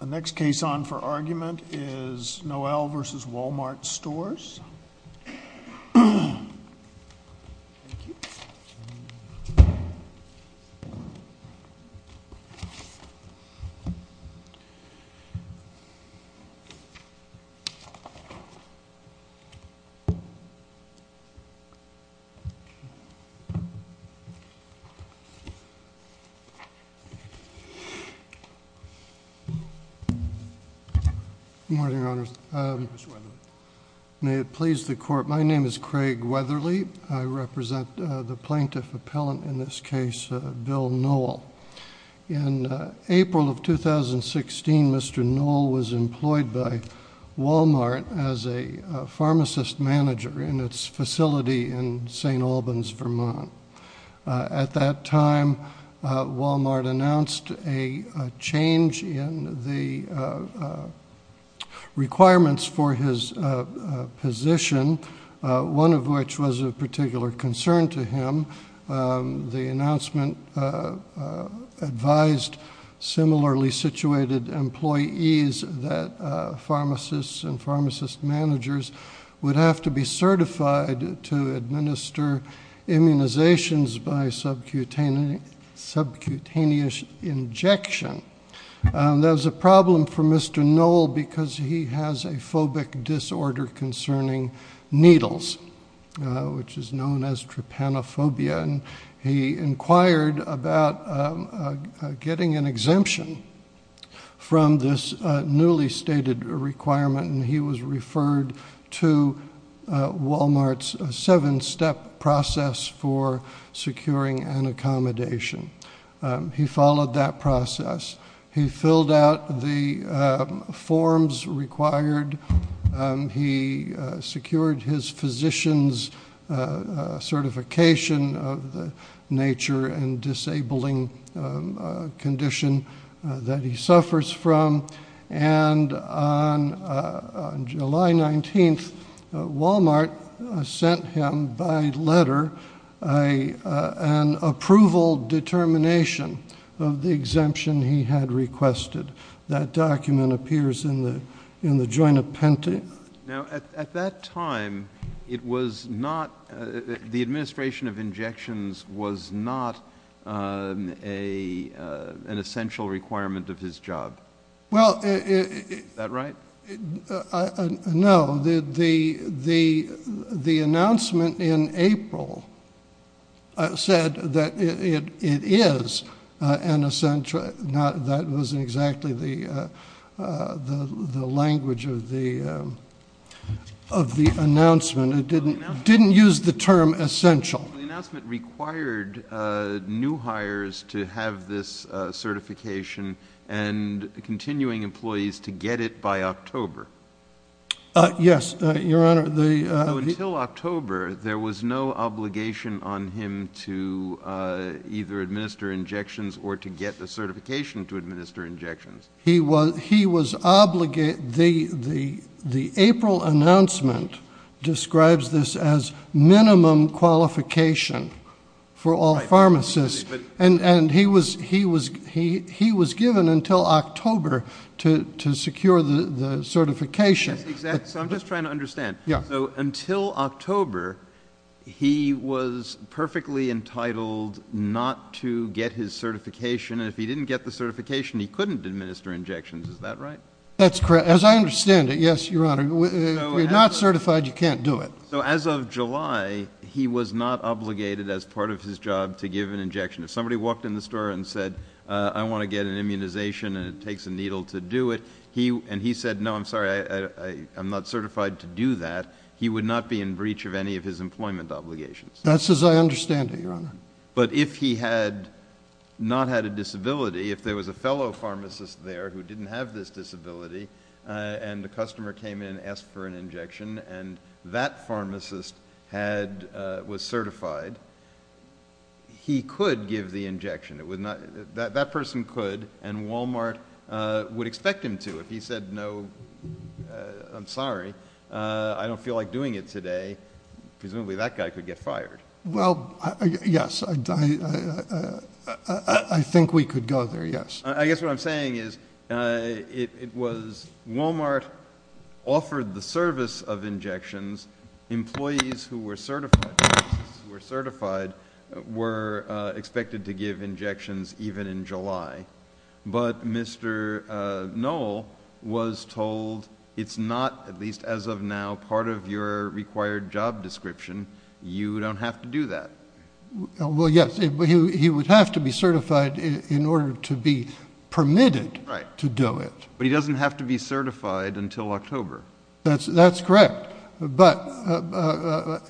The next case on for argument is Noel v. WalMart Stores. Craig Weatherly, Plaintiff Appellant, In April of 2016, Mr. Noel was employed by WalMart as a pharmacist manager in its facility in St. Albans, Vermont. At that time, WalMart announced a change in the requirements for his position, one of which was of particular concern to him. The announcement advised similarly situated employees that pharmacists and pharmacist managers would have to be certified to administer immunizations by subcutaneous injection. There was a problem for Mr. Noel because he has a phobic disorder concerning needles, which is known as trypanophobia, and he inquired about getting an exemption from this newly stated requirement, and he was referred to WalMart's seven-step process for securing an accommodation. He followed that process. He filled out the forms required. He secured his physician's certification of the nature and disabling condition that he suffers from. And on July 19th, WalMart sent him by letter an approval determination of the exemption he had requested. That document appears in the joint appendix. Now, at that time, it was not the administration of injections was not an essential requirement of his job. Is that right? No. The announcement in April said that it is an essential. That wasn't exactly the language of the announcement. It didn't use the term essential. The announcement required new hires to have this certification and continuing employees to get it by October. Yes, Your Honor. Until October, there was no obligation on him to either administer injections or to get the certification to administer injections. The April announcement describes this as minimum qualification for all pharmacists, and he was given until October to secure the certification. So I'm just trying to understand. So until October, he was perfectly entitled not to get his certification, and if he didn't get the certification, he couldn't administer injections. Is that right? That's correct. As I understand it, yes, Your Honor. If you're not certified, you can't do it. So as of July, he was not obligated as part of his job to give an injection. If somebody walked in the store and said, I want to get an immunization, and it takes a needle to do it, and he said, no, I'm sorry, I'm not certified to do that, he would not be in breach of any of his employment obligations. That's as I understand it, Your Honor. But if he had not had a disability, if there was a fellow pharmacist there who didn't have this disability, and the customer came in and asked for an injection, and that pharmacist was certified, he could give the injection. That person could, and Walmart would expect him to. If he said, no, I'm sorry, I don't feel like doing it today, presumably that guy could get fired. Well, yes, I think we could go there, yes. I guess what I'm saying is it was Walmart offered the service of injections. Employees who were certified were expected to give injections even in July. But Mr. Noll was told, it's not, at least as of now, part of your required job description. You don't have to do that. Well, yes, he would have to be certified in order to be permitted to do it. But he doesn't have to be certified until October. That's correct. But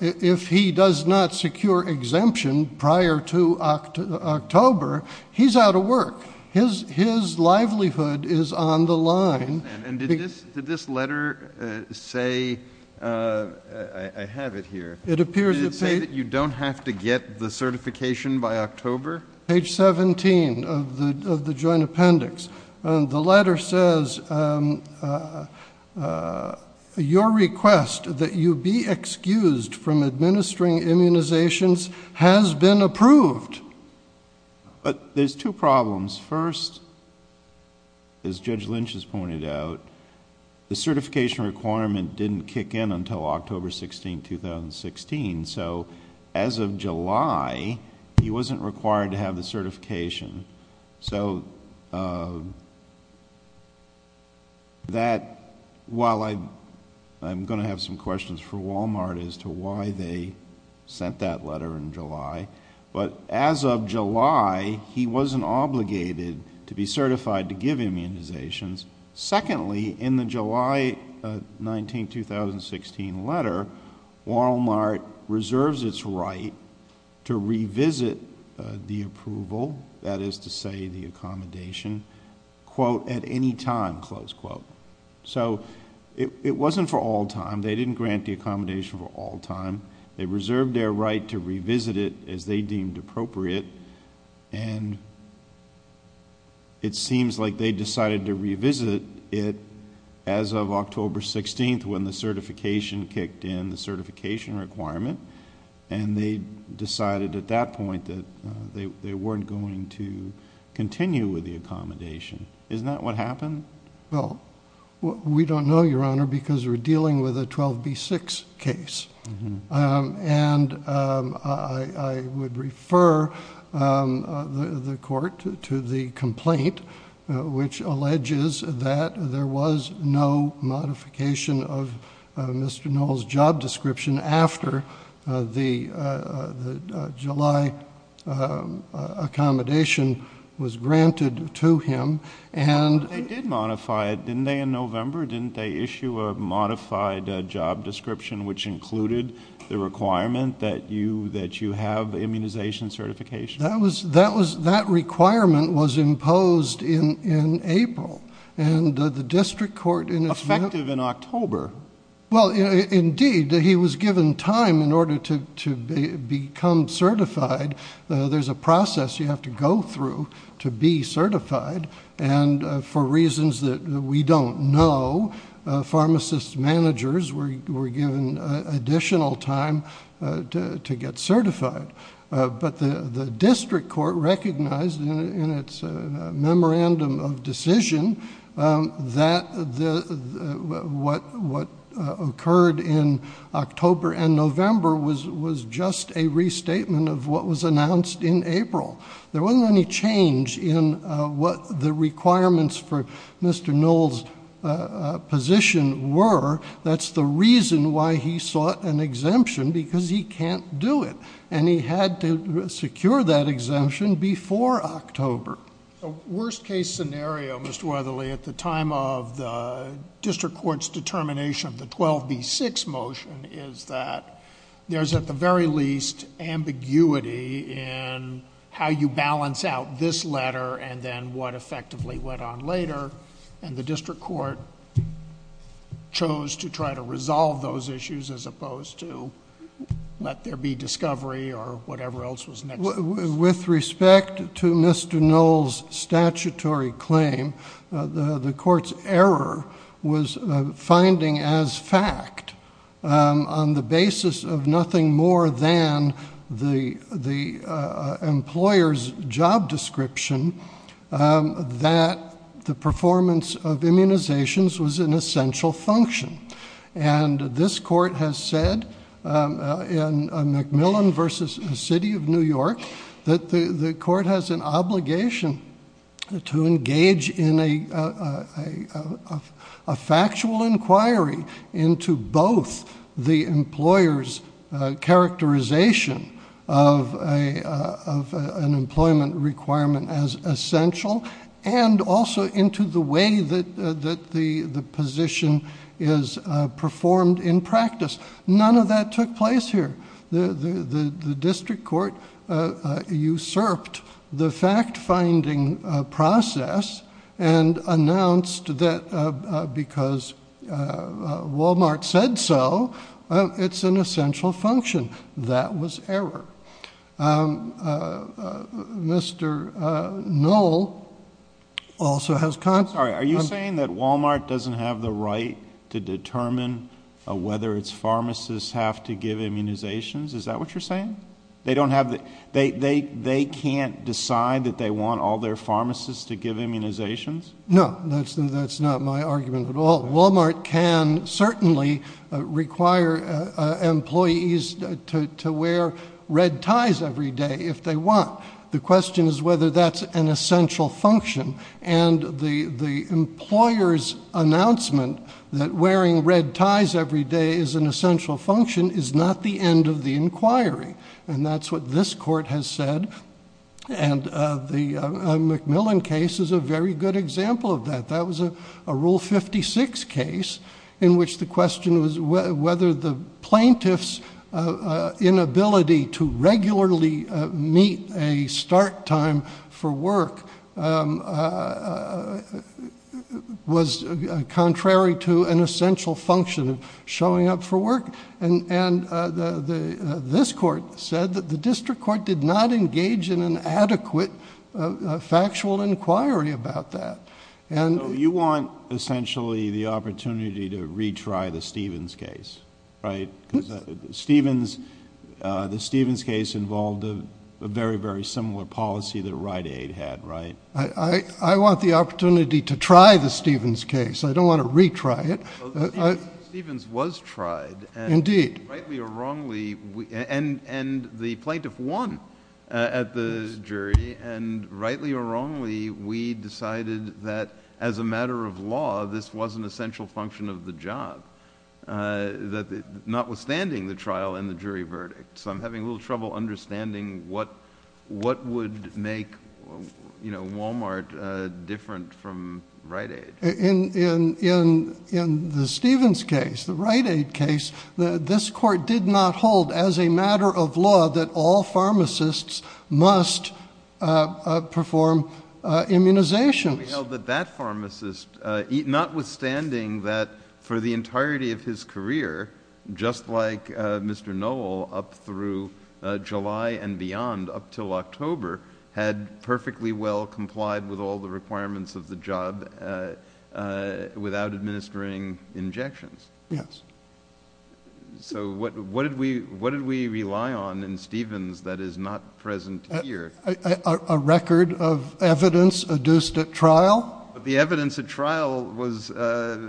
if he does not secure exemption prior to October, he's out of work. His livelihood is on the line. And did this letter say, I have it here, did it say that you don't have to get the certification by October? Page 17 of the joint appendix. The letter says, your request that you be excused from administering immunizations has been approved. But there's two problems. First, as Judge Lynch has pointed out, the certification requirement didn't kick in until October 16, 2016. So as of July, he wasn't required to have the certification. So that, while I'm going to have some questions for Walmart as to why they sent that letter in July. But as of July, he wasn't obligated to be certified to give immunizations. Secondly, in the July 19, 2016 letter, Walmart reserves its right to revisit the approval, that is to say, the accommodation, quote, at any time, close quote. So it wasn't for all time. They didn't grant the accommodation for all time. They reserved their right to revisit it as they deemed appropriate. And it seems like they decided to revisit it as of October 16, when the certification kicked in, the certification requirement. And they decided at that point that they weren't going to continue with the accommodation. Isn't that what happened? Well, we don't know, Your Honor, because we're dealing with a 12B6 case. And I would refer the court to the complaint, which alleges that there was no modification of Mr. Knoll's job description after the July accommodation was granted to him. But they did modify it, didn't they, in November? Didn't they issue a modified job description which included the requirement that you have immunization certification? That requirement was imposed in April. And the district court in effect— Effective in October. Well, indeed, he was given time in order to become certified. There's a process you have to go through to be certified. And for reasons that we don't know, pharmacist managers were given additional time to get certified. But the district court recognized in its memorandum of decision that what occurred in October and November was just a restatement of what was announced in April. There wasn't any change in what the requirements for Mr. Knoll's position were. That's the reason why he sought an exemption, because he can't do it. And he had to secure that exemption before October. The worst case scenario, Mr. Weatherly, at the time of the district court's determination of the 12B6 motion, is that there's at the very least ambiguity in how you balance out this letter and then what effectively went on later. And the district court chose to try to resolve those issues as opposed to let there be discovery or whatever else was next. With respect to Mr. Knoll's statutory claim, the court's error was finding as fact, on the basis of nothing more than the employer's job description, that the performance of immunizations was an essential function. And this court has said, in McMillan v. City of New York, that the court has an obligation to engage in a factual inquiry into both the employer's characterization of an employment requirement as essential, and also into the way that the position is performed in practice. None of that took place here. The district court usurped the fact-finding process, and announced that because Wal-Mart said so, it's an essential function. That was error. Mr. Knoll also has... Is that what you're saying? They can't decide that they want all their pharmacists to give immunizations? No, that's not my argument at all. Wal-Mart can certainly require employees to wear red ties every day if they want. The question is whether that's an essential function. And the employer's announcement that wearing red ties every day is an essential function is not the end of the inquiry. And that's what this court has said. And the McMillan case is a very good example of that. That was a Rule 56 case in which the question was whether the plaintiff's inability to regularly meet a start time for work was contrary to an essential function of showing up for work. And this court said that the district court did not engage in an adequate factual inquiry about that. So you want essentially the opportunity to retry the Stevens case, right? Because the Stevens case involved a very, very similar policy that Rite Aid had, right? I want the opportunity to try the Stevens case. I don't want to retry it. Well, the Stevens was tried. Indeed. And the plaintiff won at the jury. And rightly or wrongly, we decided that as a matter of law, this was an essential function of the job, notwithstanding the trial and the jury verdict. So I'm having a little trouble understanding what would make Wal-Mart different from Rite Aid. In the Stevens case, the Rite Aid case, this court did not hold as a matter of law that all pharmacists must perform immunizations. Notwithstanding that for the entirety of his career, just like Mr. Noel up through July and beyond up until October, had perfectly well complied with all the requirements of the job without administering injections. Yes. So what did we rely on in Stevens that is not present here? A record of evidence adduced at trial? The evidence at trial was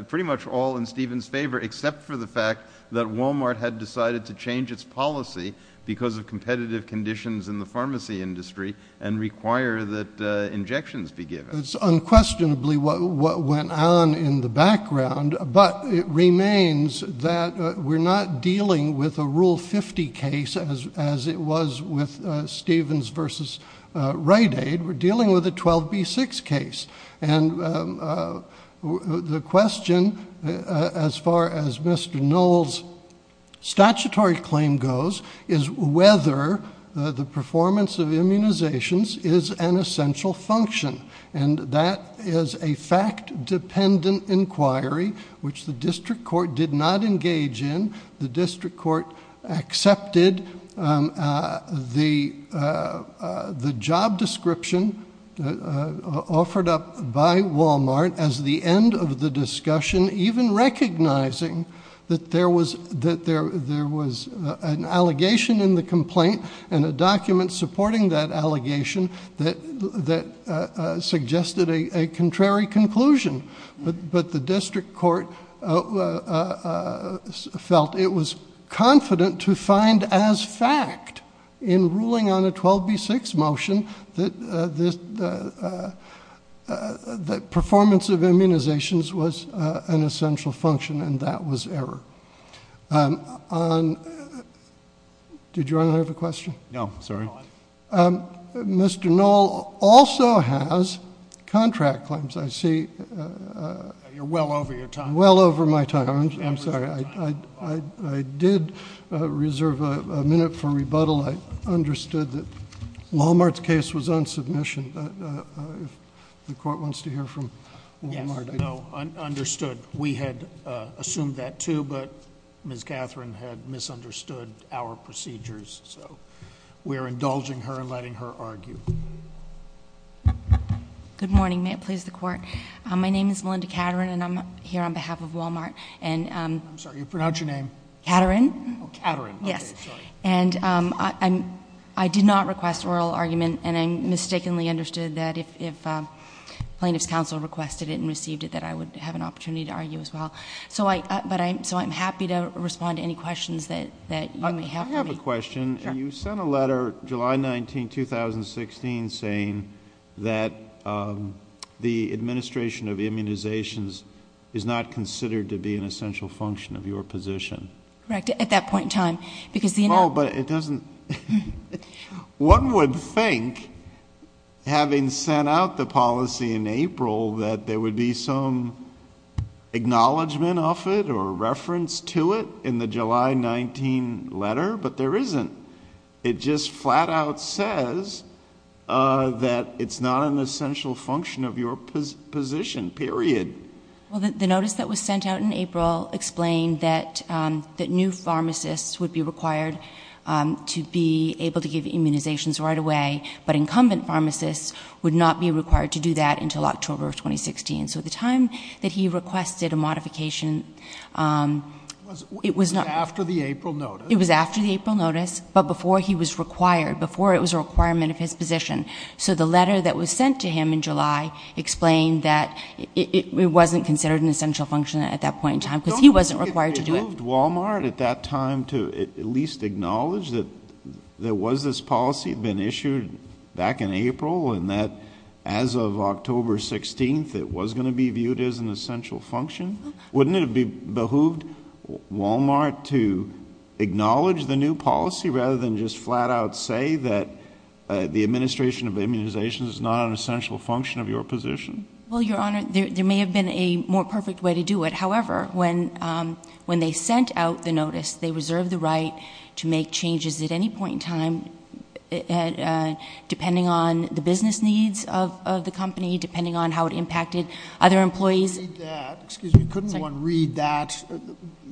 pretty much all in Stevens' favor except for the fact that Wal-Mart had decided to change its policy because of competitive conditions in the pharmacy industry and require that injections be given. It's unquestionably what went on in the background, but it remains that we're not dealing with a Rule 50 case as it was with Stevens v. Rite Aid. We're dealing with a 12B6 case. And the question, as far as Mr. Noel's statutory claim goes, is whether the performance of immunizations is an essential function. And that is a fact-dependent inquiry, which the district court did not engage in. The district court accepted the job description offered up by Wal-Mart as the end of the discussion, even recognizing that there was an allegation in the complaint and a document supporting that allegation that suggested a contrary conclusion. But the district court felt it was confident to find as fact in ruling on a 12B6 motion that performance of immunizations was an essential function, and that was error. Did you want to have a question? No, sorry. Mr. Noel also has contract claims. I see. You're well over your time. Well over my time. I'm sorry. I did reserve a minute for rebuttal. I understood that Wal-Mart's case was on submission. If the court wants to hear from Wal-Mart. Yes, no, understood. We had assumed that too, but Ms. Catherine had misunderstood our procedures. So we are indulging her and letting her argue. Good morning. May it please the Court. My name is Melinda Catherine, and I'm here on behalf of Wal-Mart. I'm sorry, you pronounce your name? Catherine. Oh, Catherine. Okay, sorry. I did not request oral argument, and I mistakenly understood that if plaintiff's counsel requested it and received it, that I would have an opportunity to argue as well. So I'm happy to respond to any questions that you may have for me. I have a question. You sent a letter July 19, 2016, saying that the administration of immunizations is not considered to be an essential function of your position. Correct, at that point in time. Oh, but it doesn't. One would think, having sent out the policy in April, that there would be some acknowledgement of it or reference to it in the July 19 letter, but there isn't. It just flat out says that it's not an essential function of your position, period. Well, the notice that was sent out in April explained that new pharmacists would be required to be able to give immunizations right away, but incumbent pharmacists would not be required to do that until October of 2016. So at the time that he requested a modification, it was not. It was after the April notice. It was after the April notice, but before he was required, before it was a requirement of his position. So the letter that was sent to him in July explained that it wasn't considered an essential function at that point in time because he wasn't required to do it. Don't you think it behooved Walmart at that time to at least acknowledge that there was this policy that had been issued back in April and that as of October 16th it was going to be viewed as an essential function? Wouldn't it have behooved Walmart to acknowledge the new policy rather than just flat out say that the administration of immunizations is not an essential function of your position? Well, Your Honor, there may have been a more perfect way to do it. However, when they sent out the notice, they reserved the right to make changes at any point in time depending on the business needs of the company, depending on how it impacted other employees. Excuse me, couldn't one read that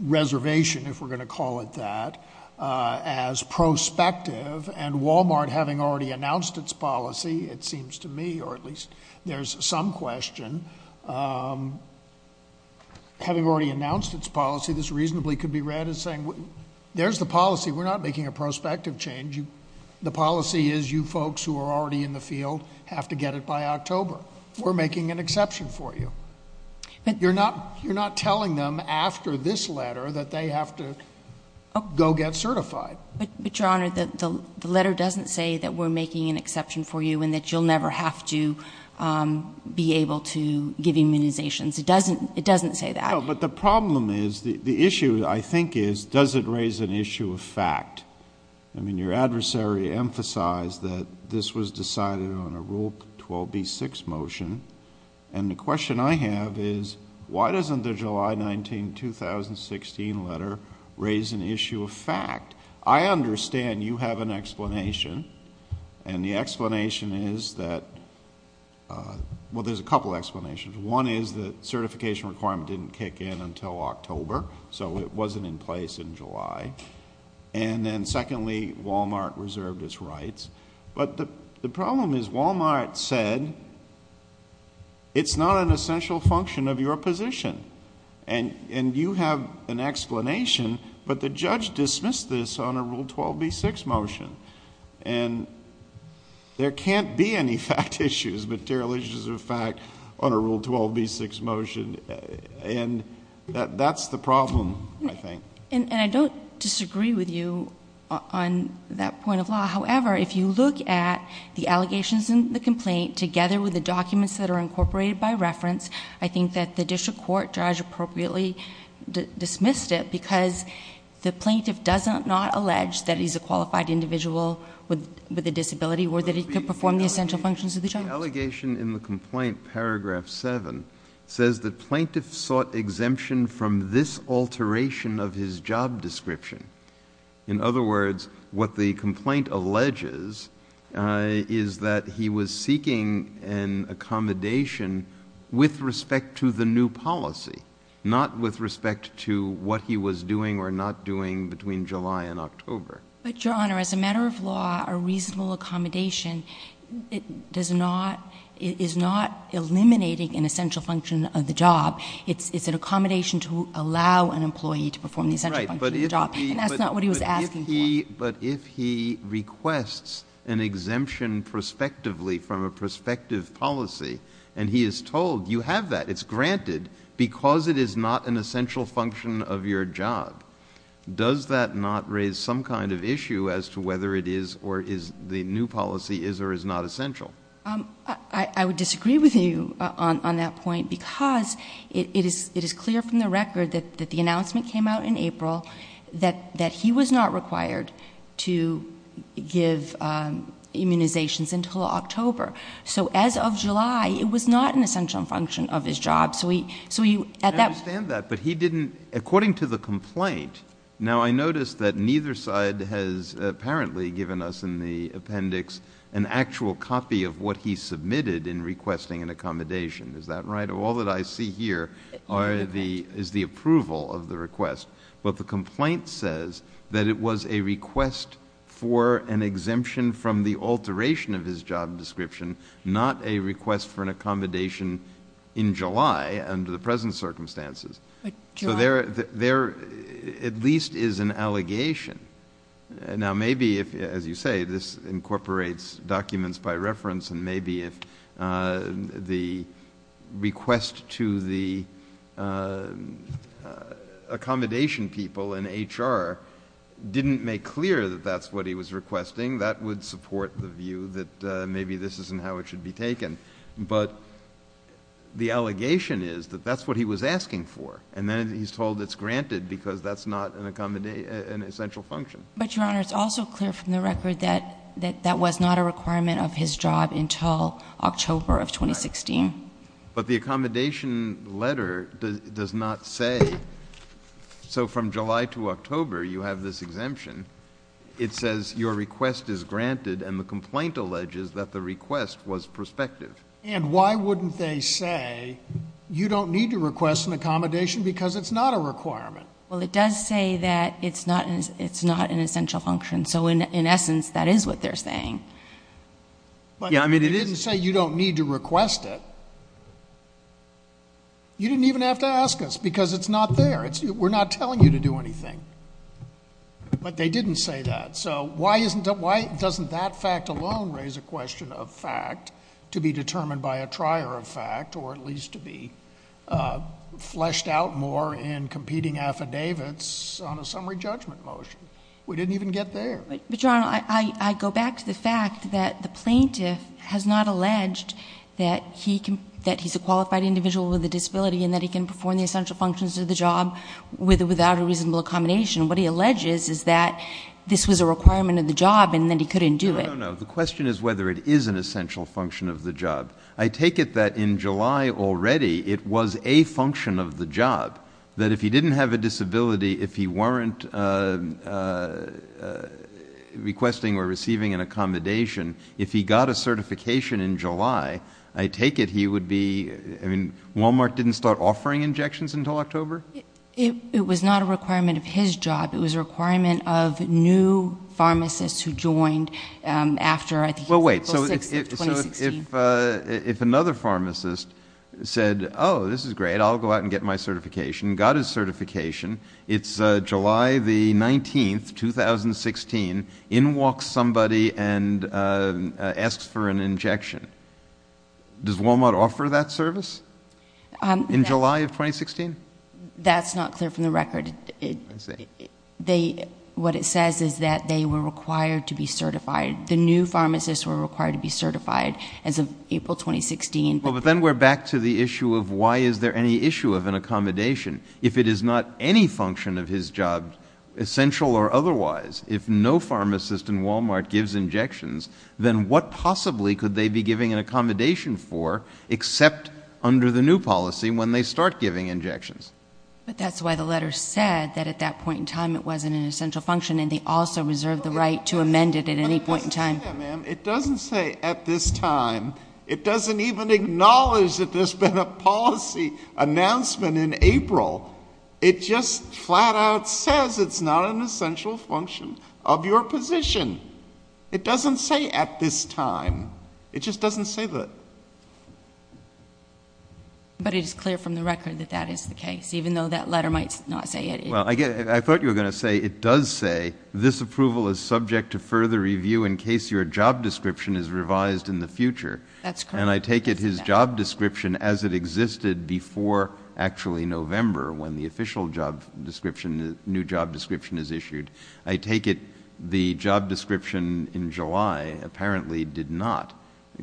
reservation, if we're going to call it that, as prospective and Walmart having already announced its policy, it seems to me, or at least there's some question, having already announced its policy, this reasonably could be read as saying, there's the policy, we're not making a prospective change. The policy is you folks who are already in the field have to get it by October. We're making an exception for you. You're not telling them after this letter that they have to go get certified. But, Your Honor, the letter doesn't say that we're making an exception for you and that you'll never have to be able to give immunizations. It doesn't say that. No, but the problem is, the issue, I think, is does it raise an issue of fact? I mean, your adversary emphasized that this was decided on a Rule 12b-6 motion, and the question I have is, why doesn't the July 19, 2016 letter raise an issue of fact? I understand you have an explanation, and the explanation is that, well, there's a couple explanations. One is that certification requirement didn't kick in until October, so it wasn't in place in July. And then, secondly, Walmart reserved its rights. But the problem is Walmart said it's not an essential function of your position. And you have an explanation, but the judge dismissed this on a Rule 12b-6 motion. And there can't be any fact issues, material issues of fact, on a Rule 12b-6 motion. And that's the problem, I think. And I don't disagree with you on that point of law. However, if you look at the allegations in the complaint, together with the documents that are incorporated by reference, I think that the district court judge appropriately dismissed it, because the plaintiff does not allege that he's a qualified individual with a disability or that he could perform the essential functions of the job. The allegation in the complaint, paragraph 7, says that plaintiff sought exemption from this alteration of his job description. In other words, what the complaint alleges is that he was seeking an accommodation with respect to the new policy, not with respect to what he was doing or not doing between July and October. But, Your Honor, as a matter of law, a reasonable accommodation is not eliminating an essential function of the job. It's an accommodation to allow an employee to perform the essential function of the job. And that's not what he was asking for. But if he requests an exemption prospectively from a prospective policy, and he is told, you have that, it's granted, because it is not an essential function of your job, does that not raise some kind of issue as to whether it is or is the new policy is or is not essential? I would disagree with you on that point, because it is clear from the record that the announcement came out in April that he was not required to give immunizations until October. So as of July, it was not an essential function of his job. I understand that, but he didn't, according to the complaint, now I notice that neither side has apparently given us in the appendix an actual copy of what he submitted in requesting an accommodation. Is that right? All that I see here is the approval of the request. But the complaint says that it was a request for an exemption from the alteration of his job description, not a request for an accommodation in July under the present circumstances. So there at least is an allegation. Now maybe, as you say, this incorporates documents by reference, and maybe if the request to the accommodation people in HR didn't make clear that that's what he was requesting, that would support the view that maybe this isn't how it should be taken. But the allegation is that that's what he was asking for, and then he's told it's granted because that's not an essential function. But, Your Honor, it's also clear from the record that that was not a requirement of his job until October of 2016. Right. But the accommodation letter does not say. So from July to October, you have this exemption. It says your request is granted, and the complaint alleges that the request was prospective. And why wouldn't they say you don't need to request an accommodation because it's not a requirement? Well, it does say that it's not an essential function. So in essence, that is what they're saying. Yeah, I mean, it is. But they didn't say you don't need to request it. You didn't even have to ask us because it's not there. We're not telling you to do anything. But they didn't say that. So why doesn't that fact alone raise a question of fact to be determined by a trier of fact, or at least to be fleshed out more in competing affidavits on a summary judgment motion? We didn't even get there. But, Your Honor, I go back to the fact that the plaintiff has not alleged that he's a qualified individual with a disability and that he can perform the essential functions of the job without a reasonable accommodation. What he alleges is that this was a requirement of the job and that he couldn't do it. No, no, no. The question is whether it is an essential function of the job. I take it that in July already it was a function of the job, that if he didn't have a disability, if he weren't requesting or receiving an accommodation, if he got a certification in July, I take it he would be ‑‑ I mean, Walmart didn't start offering injections until October? It was not a requirement of his job. It was a requirement of new pharmacists who joined after, I think, April 6th of 2016. Well, wait. So if another pharmacist said, oh, this is great, I'll go out and get my certification, got his certification, it's July the 19th, 2016, in walks somebody and asks for an injection, does Walmart offer that service in July of 2016? That's not clear from the record. I see. What it says is that they were required to be certified. The new pharmacists were required to be certified as of April 2016. But then we're back to the issue of why is there any issue of an accommodation. If it is not any function of his job, essential or otherwise, if no pharmacist in Walmart gives injections, then what possibly could they be giving an accommodation for except under the new policy when they start giving injections? But that's why the letter said that at that point in time it wasn't an essential function and they also reserved the right to amend it at any point in time. But it doesn't say that, ma'am. It doesn't say at this time. It doesn't even acknowledge that there's been a policy announcement in April. It just flat out says it's not an essential function of your position. It doesn't say at this time. It just doesn't say that. But it is clear from the record that that is the case, even though that letter might not say it. Well, I thought you were going to say it does say, this approval is subject to further review in case your job description is revised in the future. That's correct. And I take it his job description as it existed before actually November when the official job description, the new job description is issued. I take it the job description in July apparently did not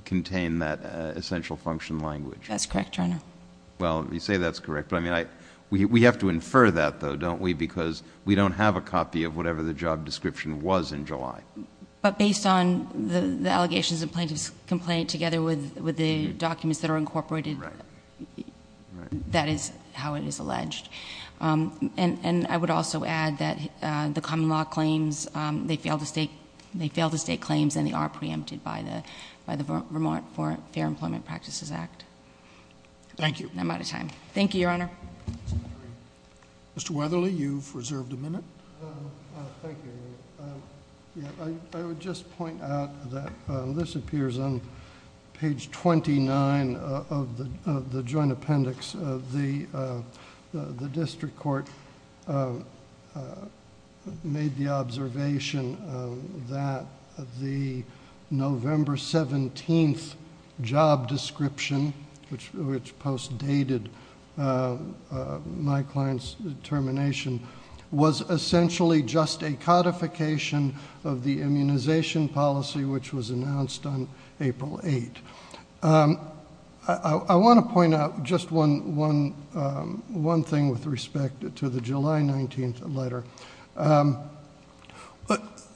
contain that essential function language. That's correct, Your Honor. Well, you say that's correct. But, I mean, we have to infer that, though, don't we, because we don't have a copy of whatever the job description was in July. But based on the allegations of plaintiff's complaint together with the documents that are incorporated, that is how it is alleged. And I would also add that the common law claims, they fail to state claims, and they are preempted by the Vermont Fair Employment Practices Act. Thank you. I'm out of time. Thank you, Your Honor. Mr. Weatherly, you've reserved a minute. Thank you. I would just point out that this appears on page 29 of the joint appendix. The district court made the observation that the November 17th job description, which post-dated my client's termination, was essentially just a codification of the immunization policy, which was announced on April 8th. I want to point out just one thing with respect to the July 19th letter.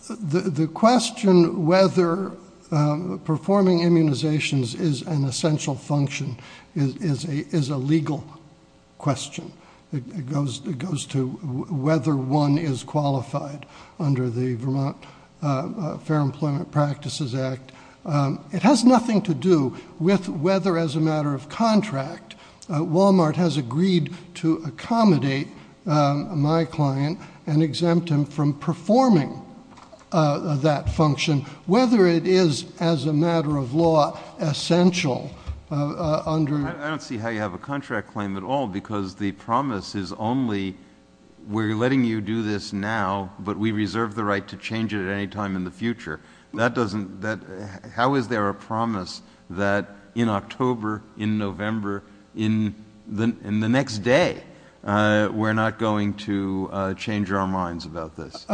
The question whether performing immunizations is an essential function is a legal question. It goes to whether one is qualified under the Vermont Fair Employment Practices Act. It has nothing to do with whether, as a matter of contract, Walmart has agreed to accommodate my client and exempt him from performing that function, whether it is, as a matter of law, essential under... I don't see how you have a contract claim at all because the promise is only we're letting you do this now, but we reserve the right to change it at any time in the future. How is there a promise that in October, in November, in the next day, we're not going to change our minds about this?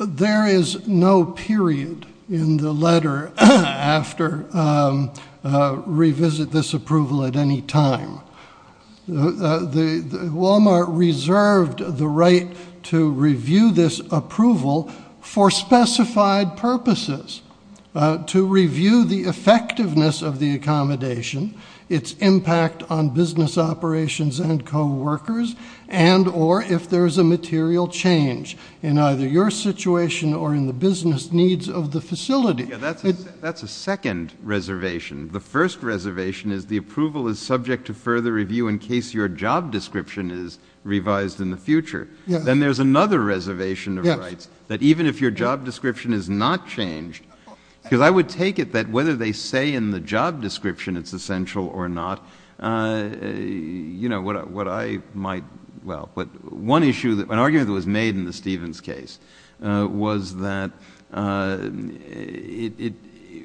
There is no period in the letter after revisit this approval at any time. Walmart reserved the right to review this approval for specified purposes, to review the effectiveness of the accommodation, its impact on business operations and coworkers, and or if there is a material change in either your situation or in the business needs of the facility. That's a second reservation. The first reservation is the approval is subject to further review in case your job description is revised in the future. Then there's another reservation of rights that even if your job description is not changed... because I would take it that whether they say in the job description it's essential or not, you know, what I might... well, one issue, an argument that was made in the Stevens case, was that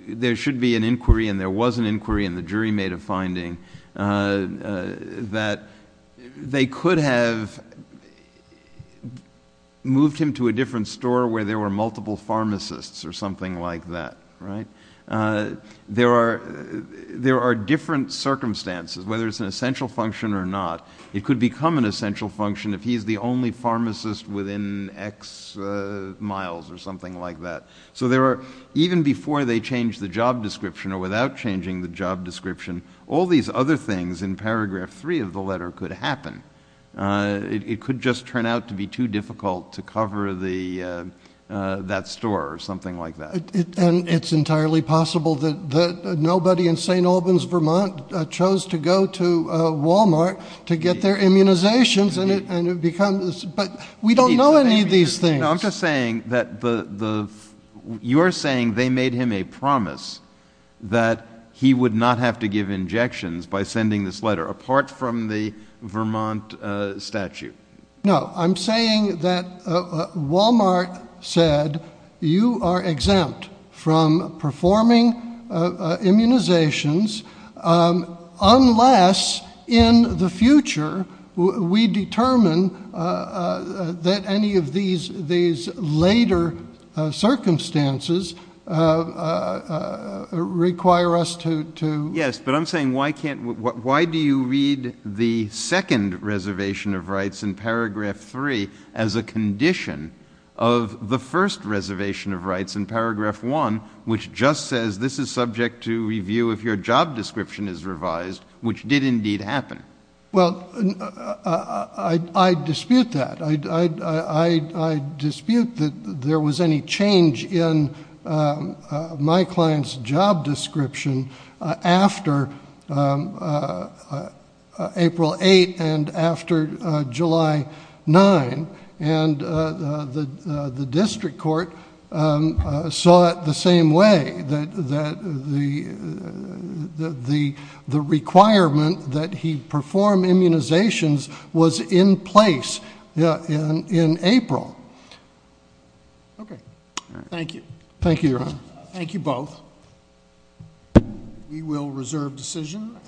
there should be an inquiry and there was an inquiry and the jury made a finding... that they could have moved him to a different store where there were multiple pharmacists or something like that, right? There are different circumstances, whether it's an essential function or not. It could become an essential function if he's the only pharmacist within X miles or something like that. So, there are... even before they change the job description or without changing the job description, all these other things in Paragraph 3 of the letter could happen. It could just turn out to be too difficult to cover that store or something like that. And it's entirely possible that nobody in St. Albans, Vermont, chose to go to Walmart to get their immunizations and it becomes... But, we don't know any of these things. No, I'm just saying that the... you're saying they made him a promise that he would not have to give injections by sending this letter, apart from the Vermont statute. No, I'm saying that Walmart said, you are exempt from performing immunizations unless, in the future, we determine that any of these later circumstances require us to... as a condition of the first reservation of rights in Paragraph 1, which just says, this is subject to review if your job description is revised, which did indeed happen. Well, I dispute that. I dispute that there was any change in my client's job description after April 8 and after July 9. And the district court saw it the same way, that the requirement that he perform immunizations was in place in April. Okay. Thank you. Thank you, Your Honor. Thank you both. We will reserve decision.